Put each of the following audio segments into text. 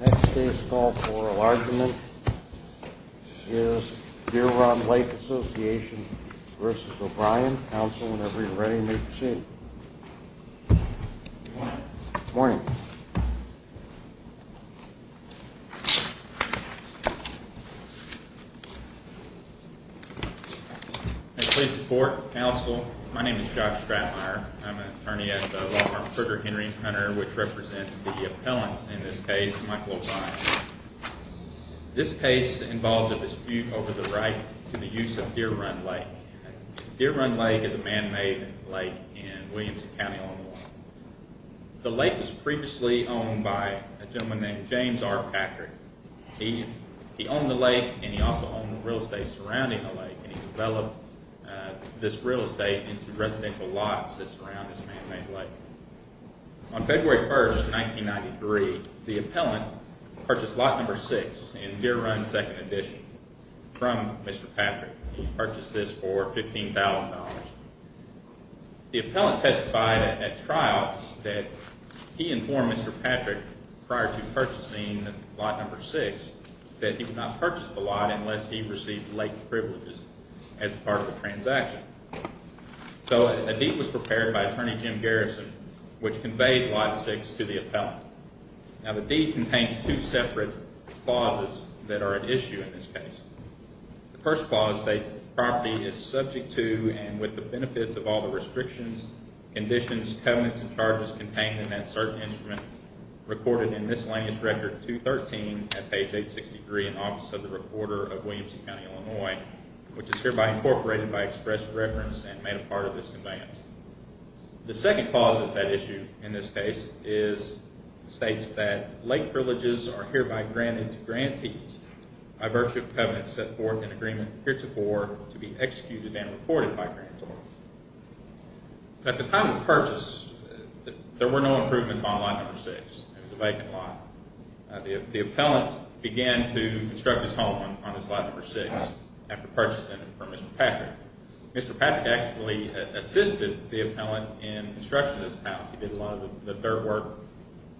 Next case called for enlargement is Deer Run Lake Association v. O'Brien. Counsel, whenever you're ready, please proceed. Good morning. Good morning. Please support. Counsel, my name is Josh Stratmire. I'm an attorney at the law firm Kruger, Henry & Hunter, which represents the appellant in this case, Michael O'Brien. This case involves a dispute over the right to the use of Deer Run Lake. Deer Run Lake is a man-made lake in Williamson County, Illinois. The lake was previously owned by a gentleman named James R. Patrick. He owned the lake and he also owned the real estate surrounding the lake. He developed this real estate into residential lots that surround this man-made lake. On February 1, 1993, the appellant purchased lot number 6 in Deer Run 2nd edition from Mr. Patrick. He purchased this for $15,000. The appellant testified at trial that he informed Mr. Patrick prior to purchasing lot number 6 that he would not purchase the lot unless he received the lake privileges as part of the transaction. So a deed was prepared by Attorney Jim Garrison, which conveyed lot 6 to the appellant. Now the deed contains two separate clauses that are at issue in this case. The first clause states that the property is subject to and with the benefits of all the restrictions, conditions, covenants, and charges contained in that certain instrument recorded in Miscellaneous Record 213 at page 863 in the Office of the Reporter of Williamson County, Illinois, which is hereby incorporated by express reference and made a part of this conveyance. The second clause of that issue in this case states that lake privileges are hereby granted to grantees by virtue of covenants set forth in agreement heretofore to be executed and reported by grantees. At the time of purchase, there were no improvements on lot number 6. It was a vacant lot. The appellant began to construct his home on this lot number 6 after purchasing it from Mr. Patrick. Mr. Patrick actually assisted the appellant in construction of this house. He did a lot of the dirt work,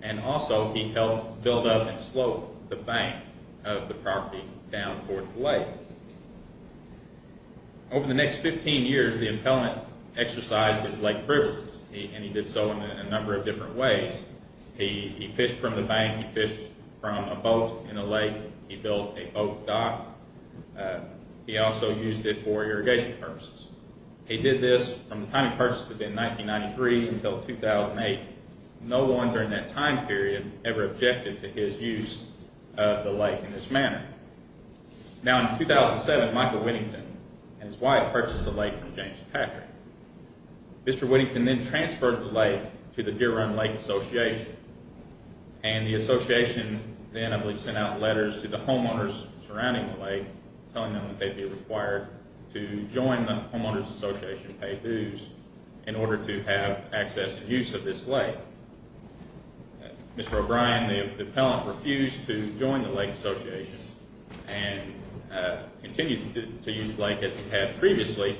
and also he helped build up and slope the bank of the property down towards the lake. Over the next 15 years, the appellant exercised his lake privileges, and he did so in a number of different ways. He fished from the bank. He fished from a boat in the lake. He built a boat dock. He also used it for irrigation purposes. He did this from the time he purchased it in 1993 until 2008. No one during that time period ever objected to his use of the lake in this manner. Now in 2007, Michael Whittington and his wife purchased the lake from James Patrick. Mr. Whittington then transferred the lake to the Deer Run Lake Association, and the association then, I believe, sent out letters to the homeowners surrounding the lake telling them that they'd be required to join the Homeowners Association to pay dues in order to have access and use of this lake. Mr. O'Brien, the appellant, refused to join the lake association and continued to use the lake as he had previously,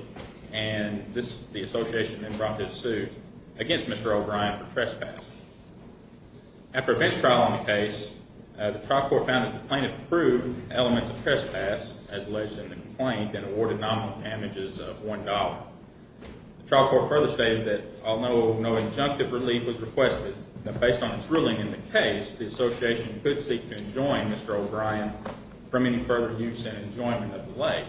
and the association then brought this suit against Mr. O'Brien for trespass. After a bench trial on the case, the trial court found that the plaintiff proved elements of trespass as alleged in the complaint and awarded nominal damages of $1. The trial court further stated that although no injunctive relief was requested, based on its ruling in the case, the association could seek to enjoin Mr. O'Brien from any further use and enjoyment of the lake.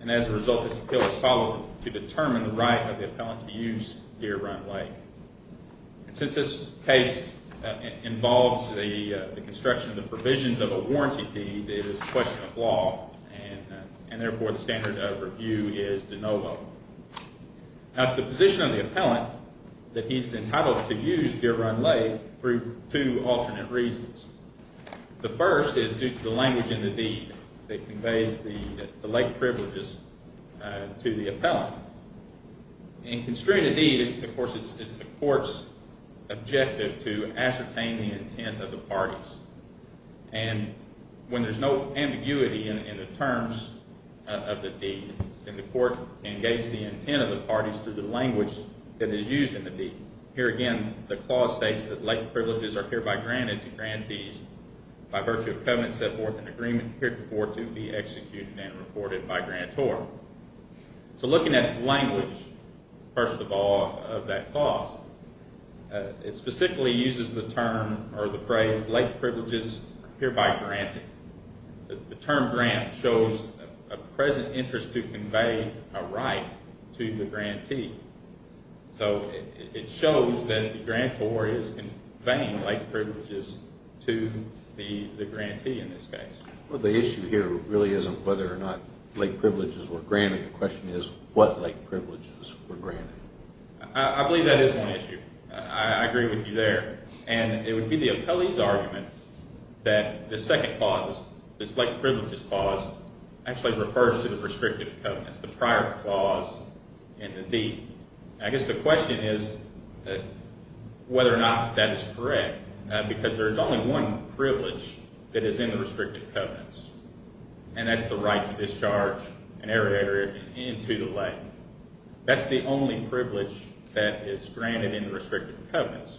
And as a result, this appeal was followed to determine the right of the appellant to use Deer Run Lake. And since this case involves the construction of the provisions of a warranty deed, it is a question of law, and therefore the standard of review is de novo. Now, it's the position of the appellant that he's entitled to use Deer Run Lake for two alternate reasons. The first is due to the language in the deed that conveys the lake privileges to the appellant. In construing a deed, of course, it's the court's objective to ascertain the intent of the parties. And when there's no ambiguity in the terms of the deed, then the court engages the intent of the parties through the language that is used in the deed. Here again, the clause states that lake privileges are hereby granted to grantees by virtue of covenant set forth in agreement heretofore to be executed and reported by grantor. So looking at language, first of all, of that clause, it specifically uses the term or the phrase lake privileges are hereby granted. The term grant shows a present interest to convey a right to the grantee. So it shows that the grantor is conveying lake privileges to the grantee in this case. Well, the issue here really isn't whether or not lake privileges were granted. The question is what lake privileges were granted. I believe that is one issue. I agree with you there. And it would be the appellee's argument that this second clause, this lake privileges clause, actually refers to the restrictive covenants, the prior clause in the deed. I guess the question is whether or not that is correct because there is only one privilege that is in the restrictive covenants, and that's the right to discharge an irrigator into the lake. That's the only privilege that is granted in the restrictive covenants.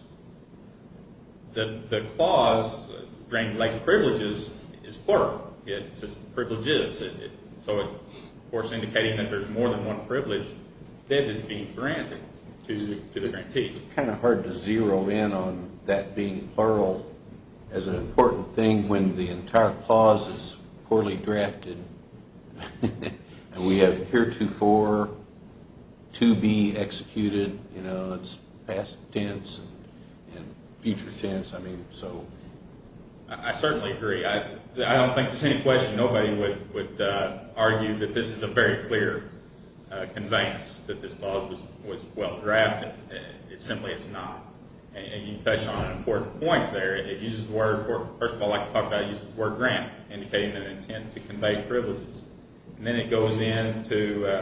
The clause lake privileges is plural. It says privileges. So, of course, indicating that there is more than one privilege that is being granted to the grantee. It's kind of hard to zero in on that being plural as an important thing when the entire clause is poorly drafted and we have heretofore to be executed. It's past tense and future tense. I certainly agree. I don't think there's any question. Nobody would argue that this is a very clear conveyance that this clause was well drafted. Simply, it's not. And you touched on an important point there. It uses the word for, first of all, like I talked about, it uses the word grant, indicating an intent to convey privileges. And then it goes into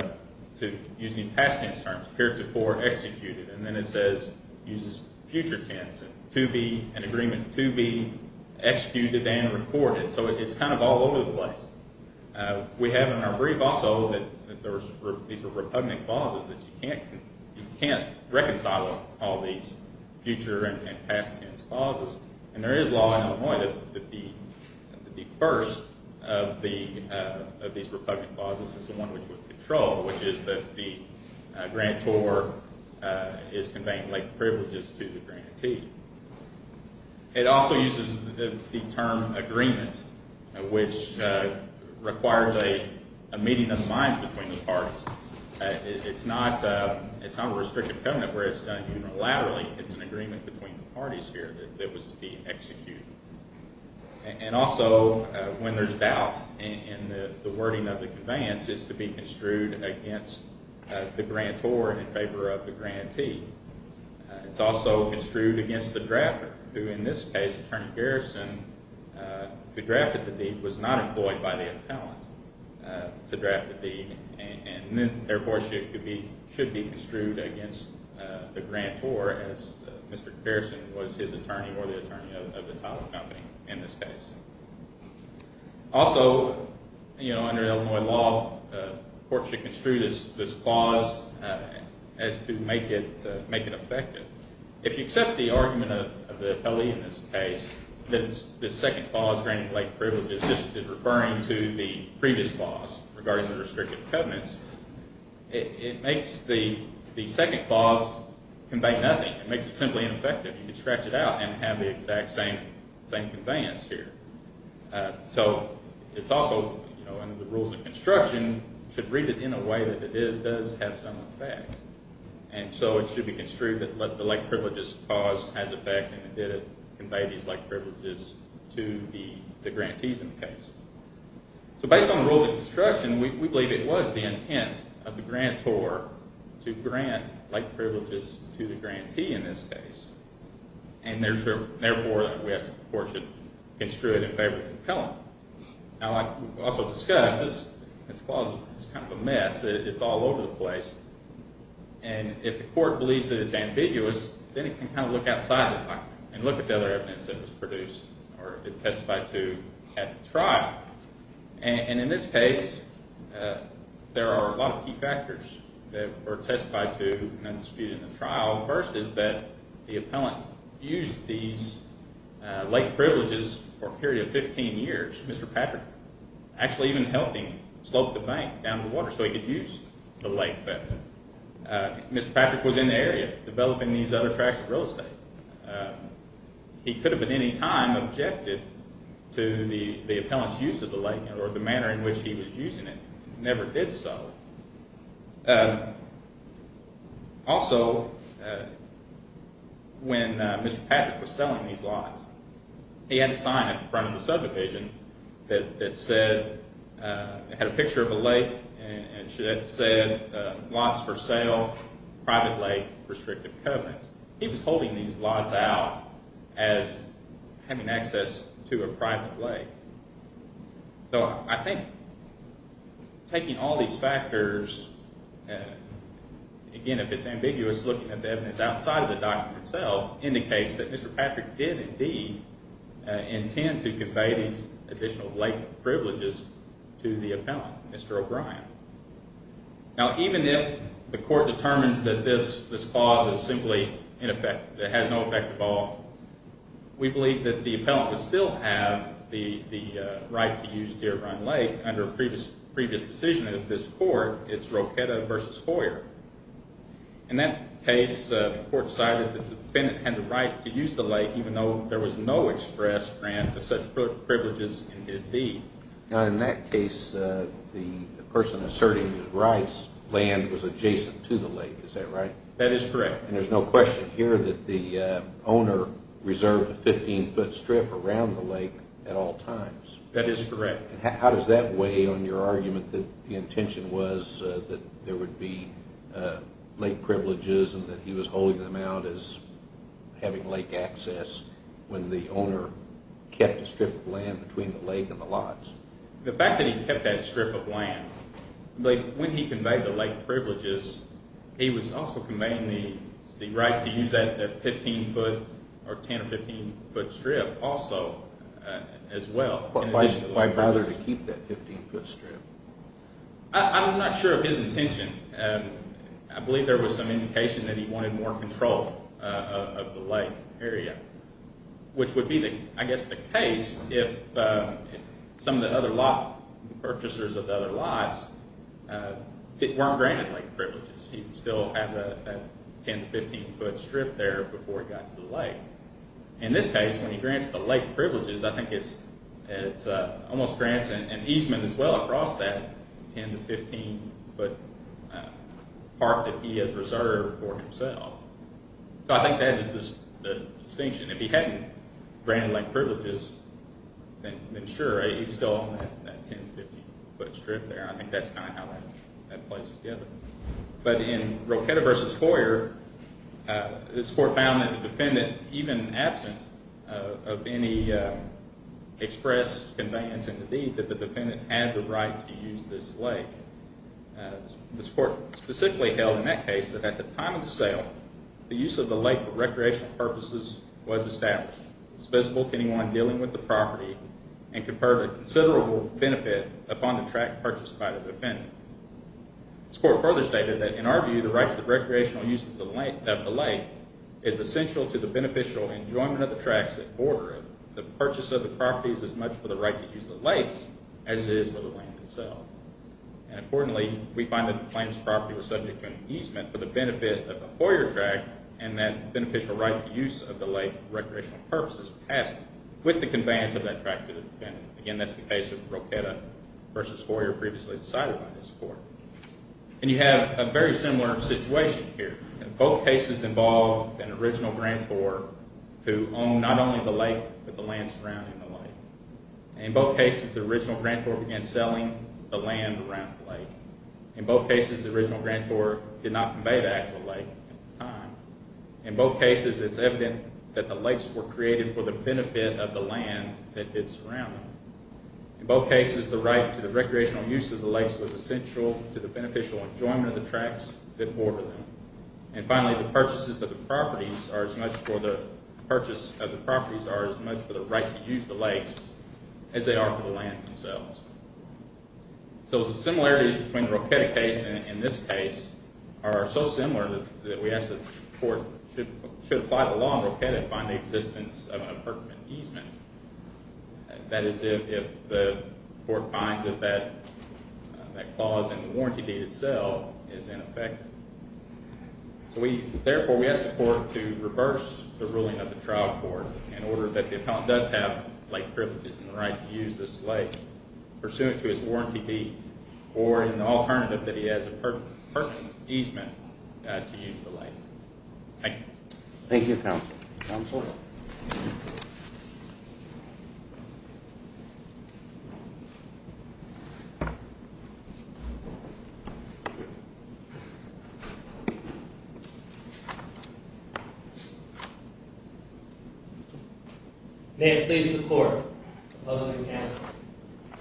using past tense terms, heretofore executed. And then it says it uses future tense, an agreement to be executed and recorded. So it's kind of all over the place. We have in our brief also that these are repugnant clauses that you can't reconcile all these future and past tense clauses. And there is law in Illinois that the first of these repugnant clauses is the one which was controlled, which is that the grantor is conveying privileges to the grantee. It also uses the term agreement, which requires a meeting of the minds between the parties. It's not a restricted covenant where it's done unilaterally. It's an agreement between the parties here that was to be executed. And also when there's doubt in the wording of the conveyance, it's to be construed against the grantor in favor of the grantee. It's also construed against the drafter, who in this case, Attorney Garrison, who drafted the deed, was not employed by the appellant to draft the deed and therefore should be construed against the grantor, as Mr. Garrison was his attorney or the attorney of the title company in this case. Also, under Illinois law, courts should construe this clause as to make it effective. If you accept the argument of the appellee in this case, that this second clause, granting late privileges, just is referring to the previous clause regarding the restricted covenants, it makes the second clause convey nothing. It makes it simply ineffective. You can scratch it out and have the exact same conveyance here. So it's also, under the rules of construction, should read it in a way that it does have some effect. And so it should be construed that the late privileges clause has effect and it did convey these late privileges to the grantees in the case. So based on the rules of construction, we believe it was the intent of the grantor to grant late privileges to the grantee in this case. And therefore, we ask that the court should construe it in favor of the appellant. Now, like we also discussed, this clause is kind of a mess. It's all over the place. And if the court believes that it's ambiguous, then it can kind of look outside the pocket and look at the other evidence that was produced or it testified to at the trial. And in this case, there are a lot of key factors that were testified to and disputed in the trial. The first is that the appellant used these late privileges for a period of 15 years, Mr. Patrick, actually even helping slope the bank down to the water so he could use the late privileges. Mr. Patrick was in the area developing these other tracts of real estate. He could have at any time objected to the appellant's use of the lake or the manner in which he was using it. He never did so. Also, when Mr. Patrick was selling these lots, he had a sign up in front of the subdivision that said, it had a picture of a lake and it said, lots for sale, private lake, restrictive covenants. He was holding these lots out as having access to a private lake. So I think taking all these factors, again, if it's ambiguous looking at the evidence outside of the document itself, indicates that Mr. Patrick did indeed intend to convey these additional late privileges to the appellant, Mr. O'Brien. Now, even if the court determines that this clause is simply ineffective, it has no effect at all, we believe that the appellant would still have the right to use Deer Run Lake under a previous decision of this court, it's Rochetta v. Hoyer. In that case, the court decided that the defendant had the right to use the lake even though there was no express grant of such privileges in his deed. Now, in that case, the person asserting his rights, land was adjacent to the lake, is that right? That is correct. And there's no question here that the owner reserved a 15-foot strip around the lake at all times. That is correct. How does that weigh on your argument that the intention was that there would be lake privileges and that he was holding them out as having lake access when the owner kept a strip of land between the lake and the lots? The fact that he kept that strip of land, when he conveyed the lake privileges, he was also conveying the right to use that 15-foot or 10- or 15-foot strip also as well. Why bother to keep that 15-foot strip? I'm not sure of his intention. I believe there was some indication that he wanted more control of the lake area, which would be, I guess, the case if some of the other lot purchasers of the other lots weren't granted lake privileges. He would still have that 10- to 15-foot strip there before he got to the lake. In this case, when he grants the lake privileges, I think it almost grants an easement as well across that 10- to 15-foot part that he has reserved for himself. I think that is the distinction. If he hadn't granted lake privileges, then sure, he'd still have that 10- to 15-foot strip there. I think that's kind of how that plays together. But in Rochetta v. Hoyer, this court found that the defendant, even absent of any express conveyance in the deed, that the defendant had the right to use this lake. This court specifically held in that case that at the time of the sale, the use of the lake for recreational purposes was established, was visible to anyone dealing with the property, and conferred a considerable benefit upon the track purchased by the defendant. This court further stated that, in our view, the right to the recreational use of the lake is essential to the beneficial enjoyment of the tracks that border it. The purchase of the property is as much for the right to use the lake as it is for the land itself. Importantly, we find that the claims of property were subject to an easement for the benefit of the Hoyer track, and that beneficial right to use of the lake for recreational purposes passed with the conveyance of that track to the defendant. Again, that's the case of Rochetta v. Hoyer, previously decided by this court. And you have a very similar situation here. In both cases involved an original grantor who owned not only the lake, but the land surrounding the lake. In both cases, the original grantor began selling the land around the lake. In both cases, the original grantor did not convey the actual lake at the time. In both cases, it's evident that the lakes were created for the benefit of the land that did surround them. In both cases, the right to the recreational use of the lakes was essential to the beneficial enjoyment of the tracks that border them. And finally, the purchase of the properties are as much for the right to use the lakes as they are for the lands themselves. So the similarities between the Rochetta case and this case are so similar that we ask that the court should apply the law in Rochetta and find the existence of an appurtenant easement. That is if the court finds that that clause in the warranty deed itself is ineffective. Therefore, we ask the court to reverse the ruling of the trial court in order that the appellant does have lake privileges and the right to use this lake pursuant to his warranty deed or in the alternative that he has a perfect easement to use the lake. Thank you. Thank you, counsel. Counsel? May it please the court, opposing counsel.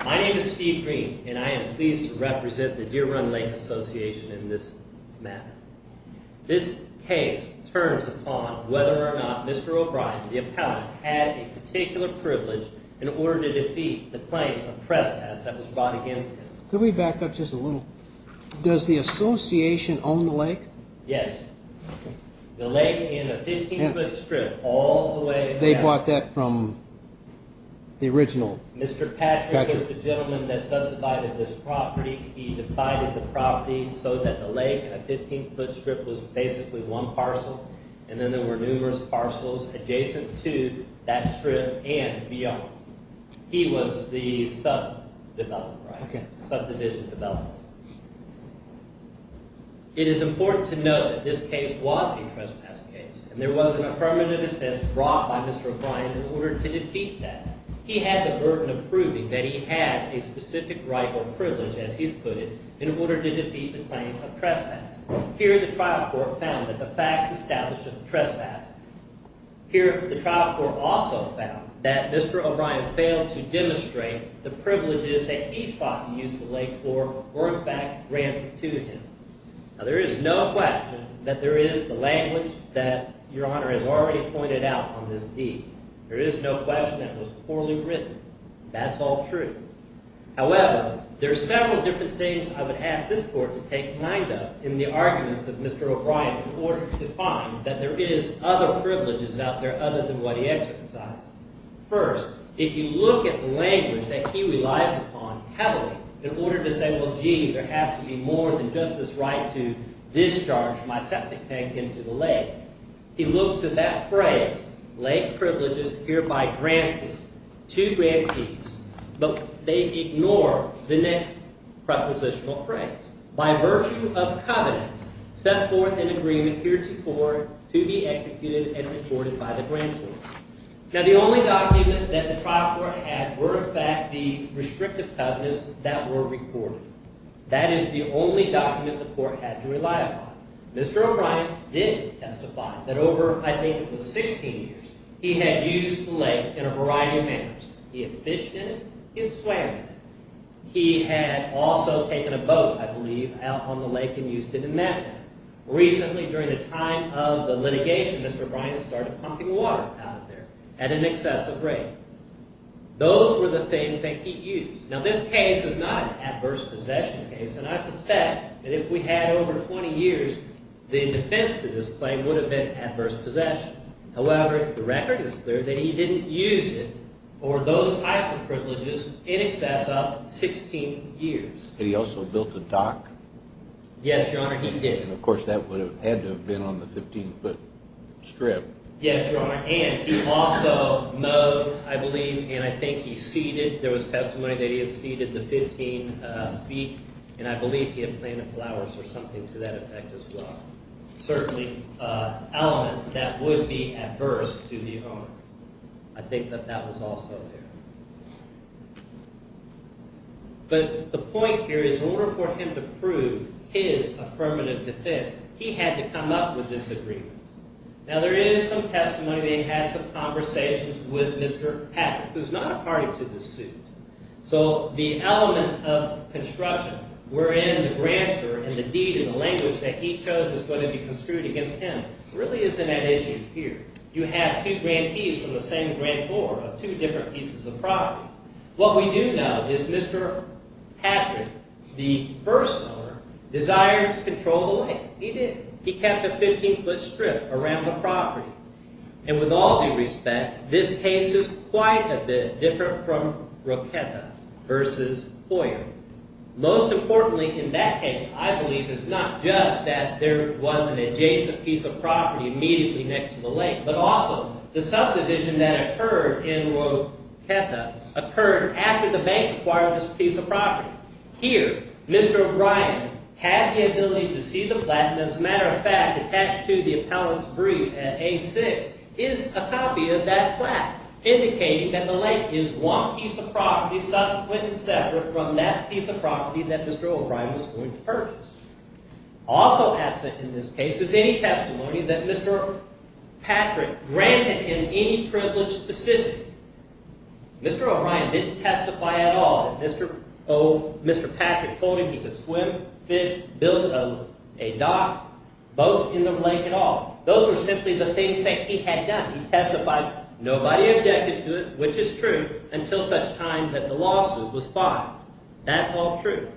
My name is Steve Green, and I am pleased to represent the Deer Run Lake Association in this matter. This case turns upon whether or not Mr. O'Brien, the appellant, had a particular privilege in order to defeat the claim of trespass that was brought against him. Could we back up just a little? Does the association own the lake? Yes. The lake in a 15-foot strip all the way down. They bought that from the original catcher. Mr. Patrick was the gentleman that subdivided this property. He divided the property so that the lake in a 15-foot strip was basically one parcel, and then there were numerous parcels adjacent to that strip and beyond. He was the subdivision developer. It is important to note that this case was a trespass case, and there was an affirmative defense brought by Mr. O'Brien in order to defeat that. He had the burden of proving that he had a specific right or privilege, as he put it, in order to defeat the claim of trespass. Here, the trial court found that the facts established a trespass. Here, the trial court also found that Mr. O'Brien failed to demonstrate the privileges that he sought to use the lake for or, in fact, granted to him. Now, there is no question that there is the language that Your Honor has already pointed out on this deed. There is no question that it was poorly written. That's all true. However, there are several different things I would ask this court to take mind of in the arguments of Mr. O'Brien in order to find that there is other privileges out there other than what he exercised. First, if you look at the language that he relies upon heavily in order to say, well, gee, there has to be more than just this right to discharge my septic tank into the lake, he looks to that phrase, lake privileges hereby granted to grantees, but they ignore the next prepositional phrase, by virtue of covenants set forth in agreement heretofore to be executed and reported by the grand court. Now, the only document that the trial court had were, in fact, the restrictive covenants that were reported. That is the only document the court had to rely upon. Mr. O'Brien did testify that over, I think it was 16 years, he had used the lake in a variety of manners. He had fished in it. He had swam in it. He had also taken a boat, I believe, out on the lake in Houston in that manner. Recently, during the time of the litigation, Mr. O'Brien started pumping water out of there at an excessive rate. Those were the things that he used. Now, this case is not an adverse possession case, and I suspect that if we had over 20 years, the defense to this claim would have been adverse possession. However, the record is clear that he didn't use it or those types of privileges in excess of 16 years. Had he also built a dock? Yes, Your Honor, he did. And, of course, that would have had to have been on the 15-foot strip. Yes, Your Honor, and he also mowed, I believe, and I think he seeded. There was testimony that he had seeded the 15 feet, and I believe he had planted flowers or something to that effect as well. Certainly elements that would be adverse to the owner. I think that that was also there. But the point here is in order for him to prove his affirmative defense, he had to come up with this agreement. Now, there is some testimony that he had some conversations with Mr. Patrick, who's not a party to this suit. So the elements of construction wherein the grantor and the deed and the language that he chose is going to be construed against him really isn't an issue here. You have two grantees from the same grantor of two different pieces of property. What we do know is Mr. Patrick, the first owner, desired to control the lake. He did. He had a 15-foot strip around the property. And with all due respect, this case is quite a bit different from Roqueta v. Hoyer. Most importantly in that case, I believe, is not just that there was an adjacent piece of property immediately next to the lake, but also the subdivision that occurred in Roqueta occurred after the bank acquired this piece of property. Here, Mr. O'Brien had the ability to see the plaque. And as a matter of fact, attached to the appellant's brief at A6 is a copy of that plaque, indicating that the lake is one piece of property subsequent and separate from that piece of property that Mr. O'Brien was going to purchase. Also absent in this case is any testimony that Mr. Patrick granted in any privilege specific. Mr. O'Brien didn't testify at all that Mr. Patrick told him he could swim, fish, build a dock, boat in the lake at all. Those were simply the things that he had done. He testified. Nobody objected to it, which is true, until such time that the lawsuit was filed. That's all true.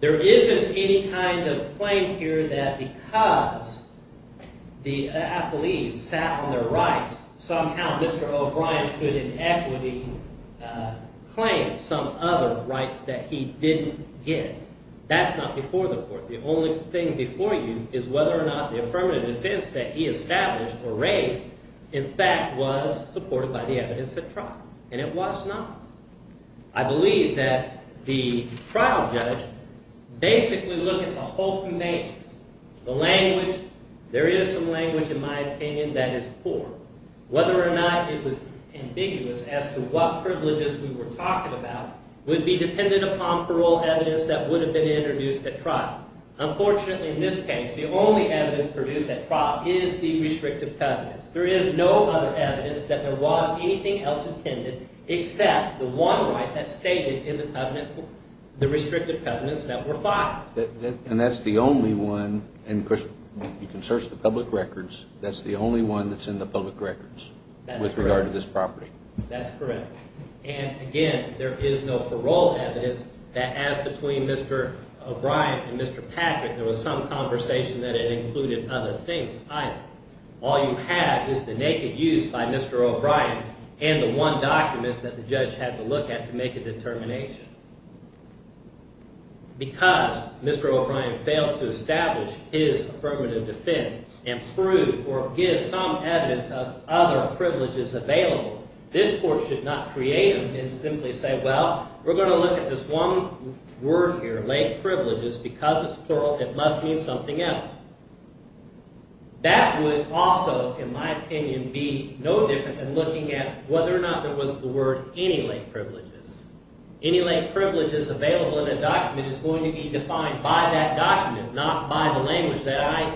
There isn't any kind of claim here that because the appellees sat on their rights, somehow Mr. O'Brien should in equity claim some other rights that he didn't get. That's not before the court. The only thing before you is whether or not the affirmative defense that he established or raised, in fact, was supported by the evidence at trial. And it was not. I believe that the trial judge basically looked at the whole thing. The language, there is some language in my opinion that is poor. Whether or not it was ambiguous as to what privileges we were talking about would be dependent upon parole evidence that would have been introduced at trial. Unfortunately, in this case, the only evidence produced at trial is the restrictive evidence. There is no other evidence that there was anything else intended except the one right that stated in the restrictive evidence that were filed. And that's the only one. And, of course, you can search the public records. That's the only one that's in the public records with regard to this property. That's correct. And, again, there is no parole evidence that, as between Mr. O'Brien and Mr. Patrick, there was some conversation that it included other things either. All you have is the naked use by Mr. O'Brien and the one document that the judge had to look at to make a determination. Because Mr. O'Brien failed to establish his affirmative defense and prove or give some evidence of other privileges available, this court should not create him and simply say, well, we're going to look at this one word here, late privileges, because it's plural, it must mean something else. That would also, in my opinion, be no different than looking at whether or not there was the word any late privileges. Any late privileges available in a document is going to be defined by that document, not by the language that I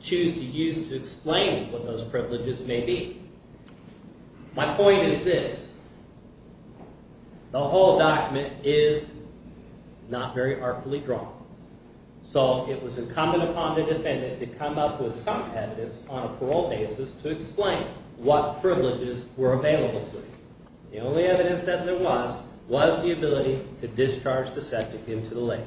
choose to use to explain what those privileges may be. My point is this. The whole document is not very artfully drawn. So it was incumbent upon the defendant to come up with some evidence on a parole basis to explain what privileges were available to him. The only evidence that there was was the ability to discharge the subject into the lake.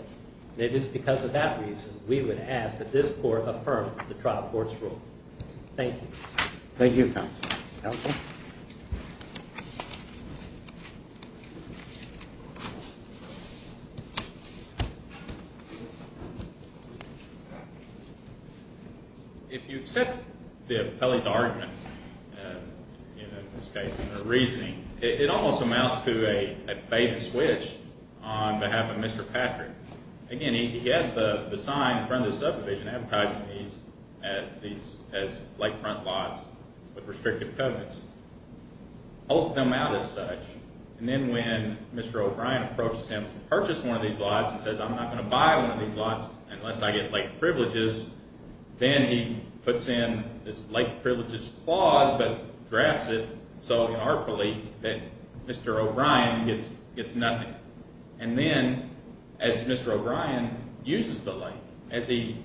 And it is because of that reason we would ask that this court affirm the trial court's rule. Thank you. Thank you, counsel. Counsel? If you accept Pelley's argument, in this case, in her reasoning, it almost amounts to a bait and switch on behalf of Mr. Patrick. Again, he had the sign in front of the subdivision advertising these as lakefront lots with restrictive covenants. Holds them out as such. And then when Mr. O'Brien approaches him to purchase one of these lots and says I'm not going to buy one of these lots unless I get late privileges, then he puts in this late privileges clause but drafts it so artfully that Mr. O'Brien gets nothing. And then as Mr. O'Brien uses the lake, as he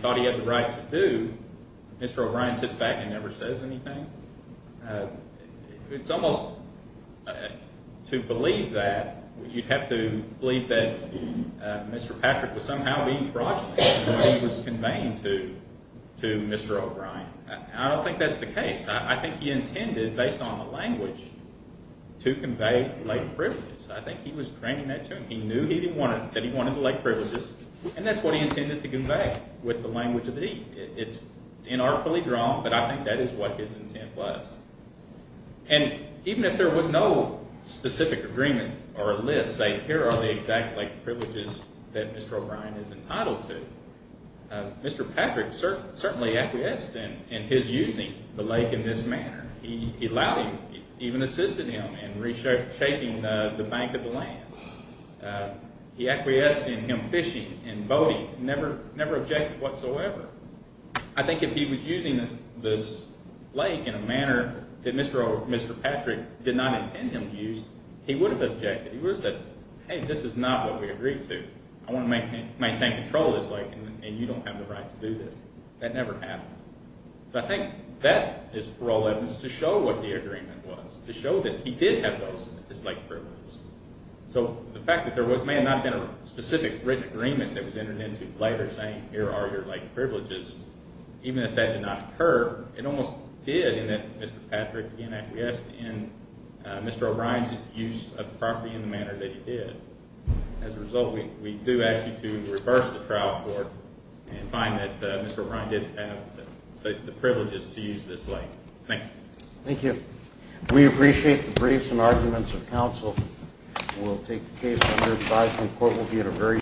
thought he had the right to do, Mr. O'Brien sits back and never says anything. It's almost to believe that you'd have to believe that Mr. Patrick was somehow being fraudulent when he was conveying to Mr. O'Brien. I don't think that's the case. I think he intended, based on the language, to convey lake privileges. I think he was draining that to him. He knew that he wanted the lake privileges, and that's what he intended to convey with the language of the deed. It's inartfully drawn, but I think that is what his intent was. And even if there was no specific agreement or list saying here are the exact lake privileges that Mr. O'Brien is entitled to, Mr. Patrick certainly acquiesced in his using the lake in this manner. He allowed him, even assisted him in reshaping the bank of the land. He acquiesced in him fishing and boating, never objected whatsoever. I think if he was using this lake in a manner that Mr. Patrick did not intend him to use, he would have objected. He would have said, hey, this is not what we agreed to. I want to maintain control of this lake, and you don't have the right to do this. That never happened. I think that is for all evidence to show what the agreement was, to show that he did have those, his lake privileges. So the fact that there may not have been a specific written agreement that was entered into later saying here are your lake privileges, even if that did not occur, it almost did in that Mr. Patrick didn't acquiesce in Mr. O'Brien's use of the property in the manner that he did. As a result, we do ask you to reverse the trial court and find that Mr. O'Brien didn't have the privileges to use this lake. Thank you. Thank you. We appreciate the briefs and arguments of counsel. We'll take the case under advisory court. We'll be in a very short time.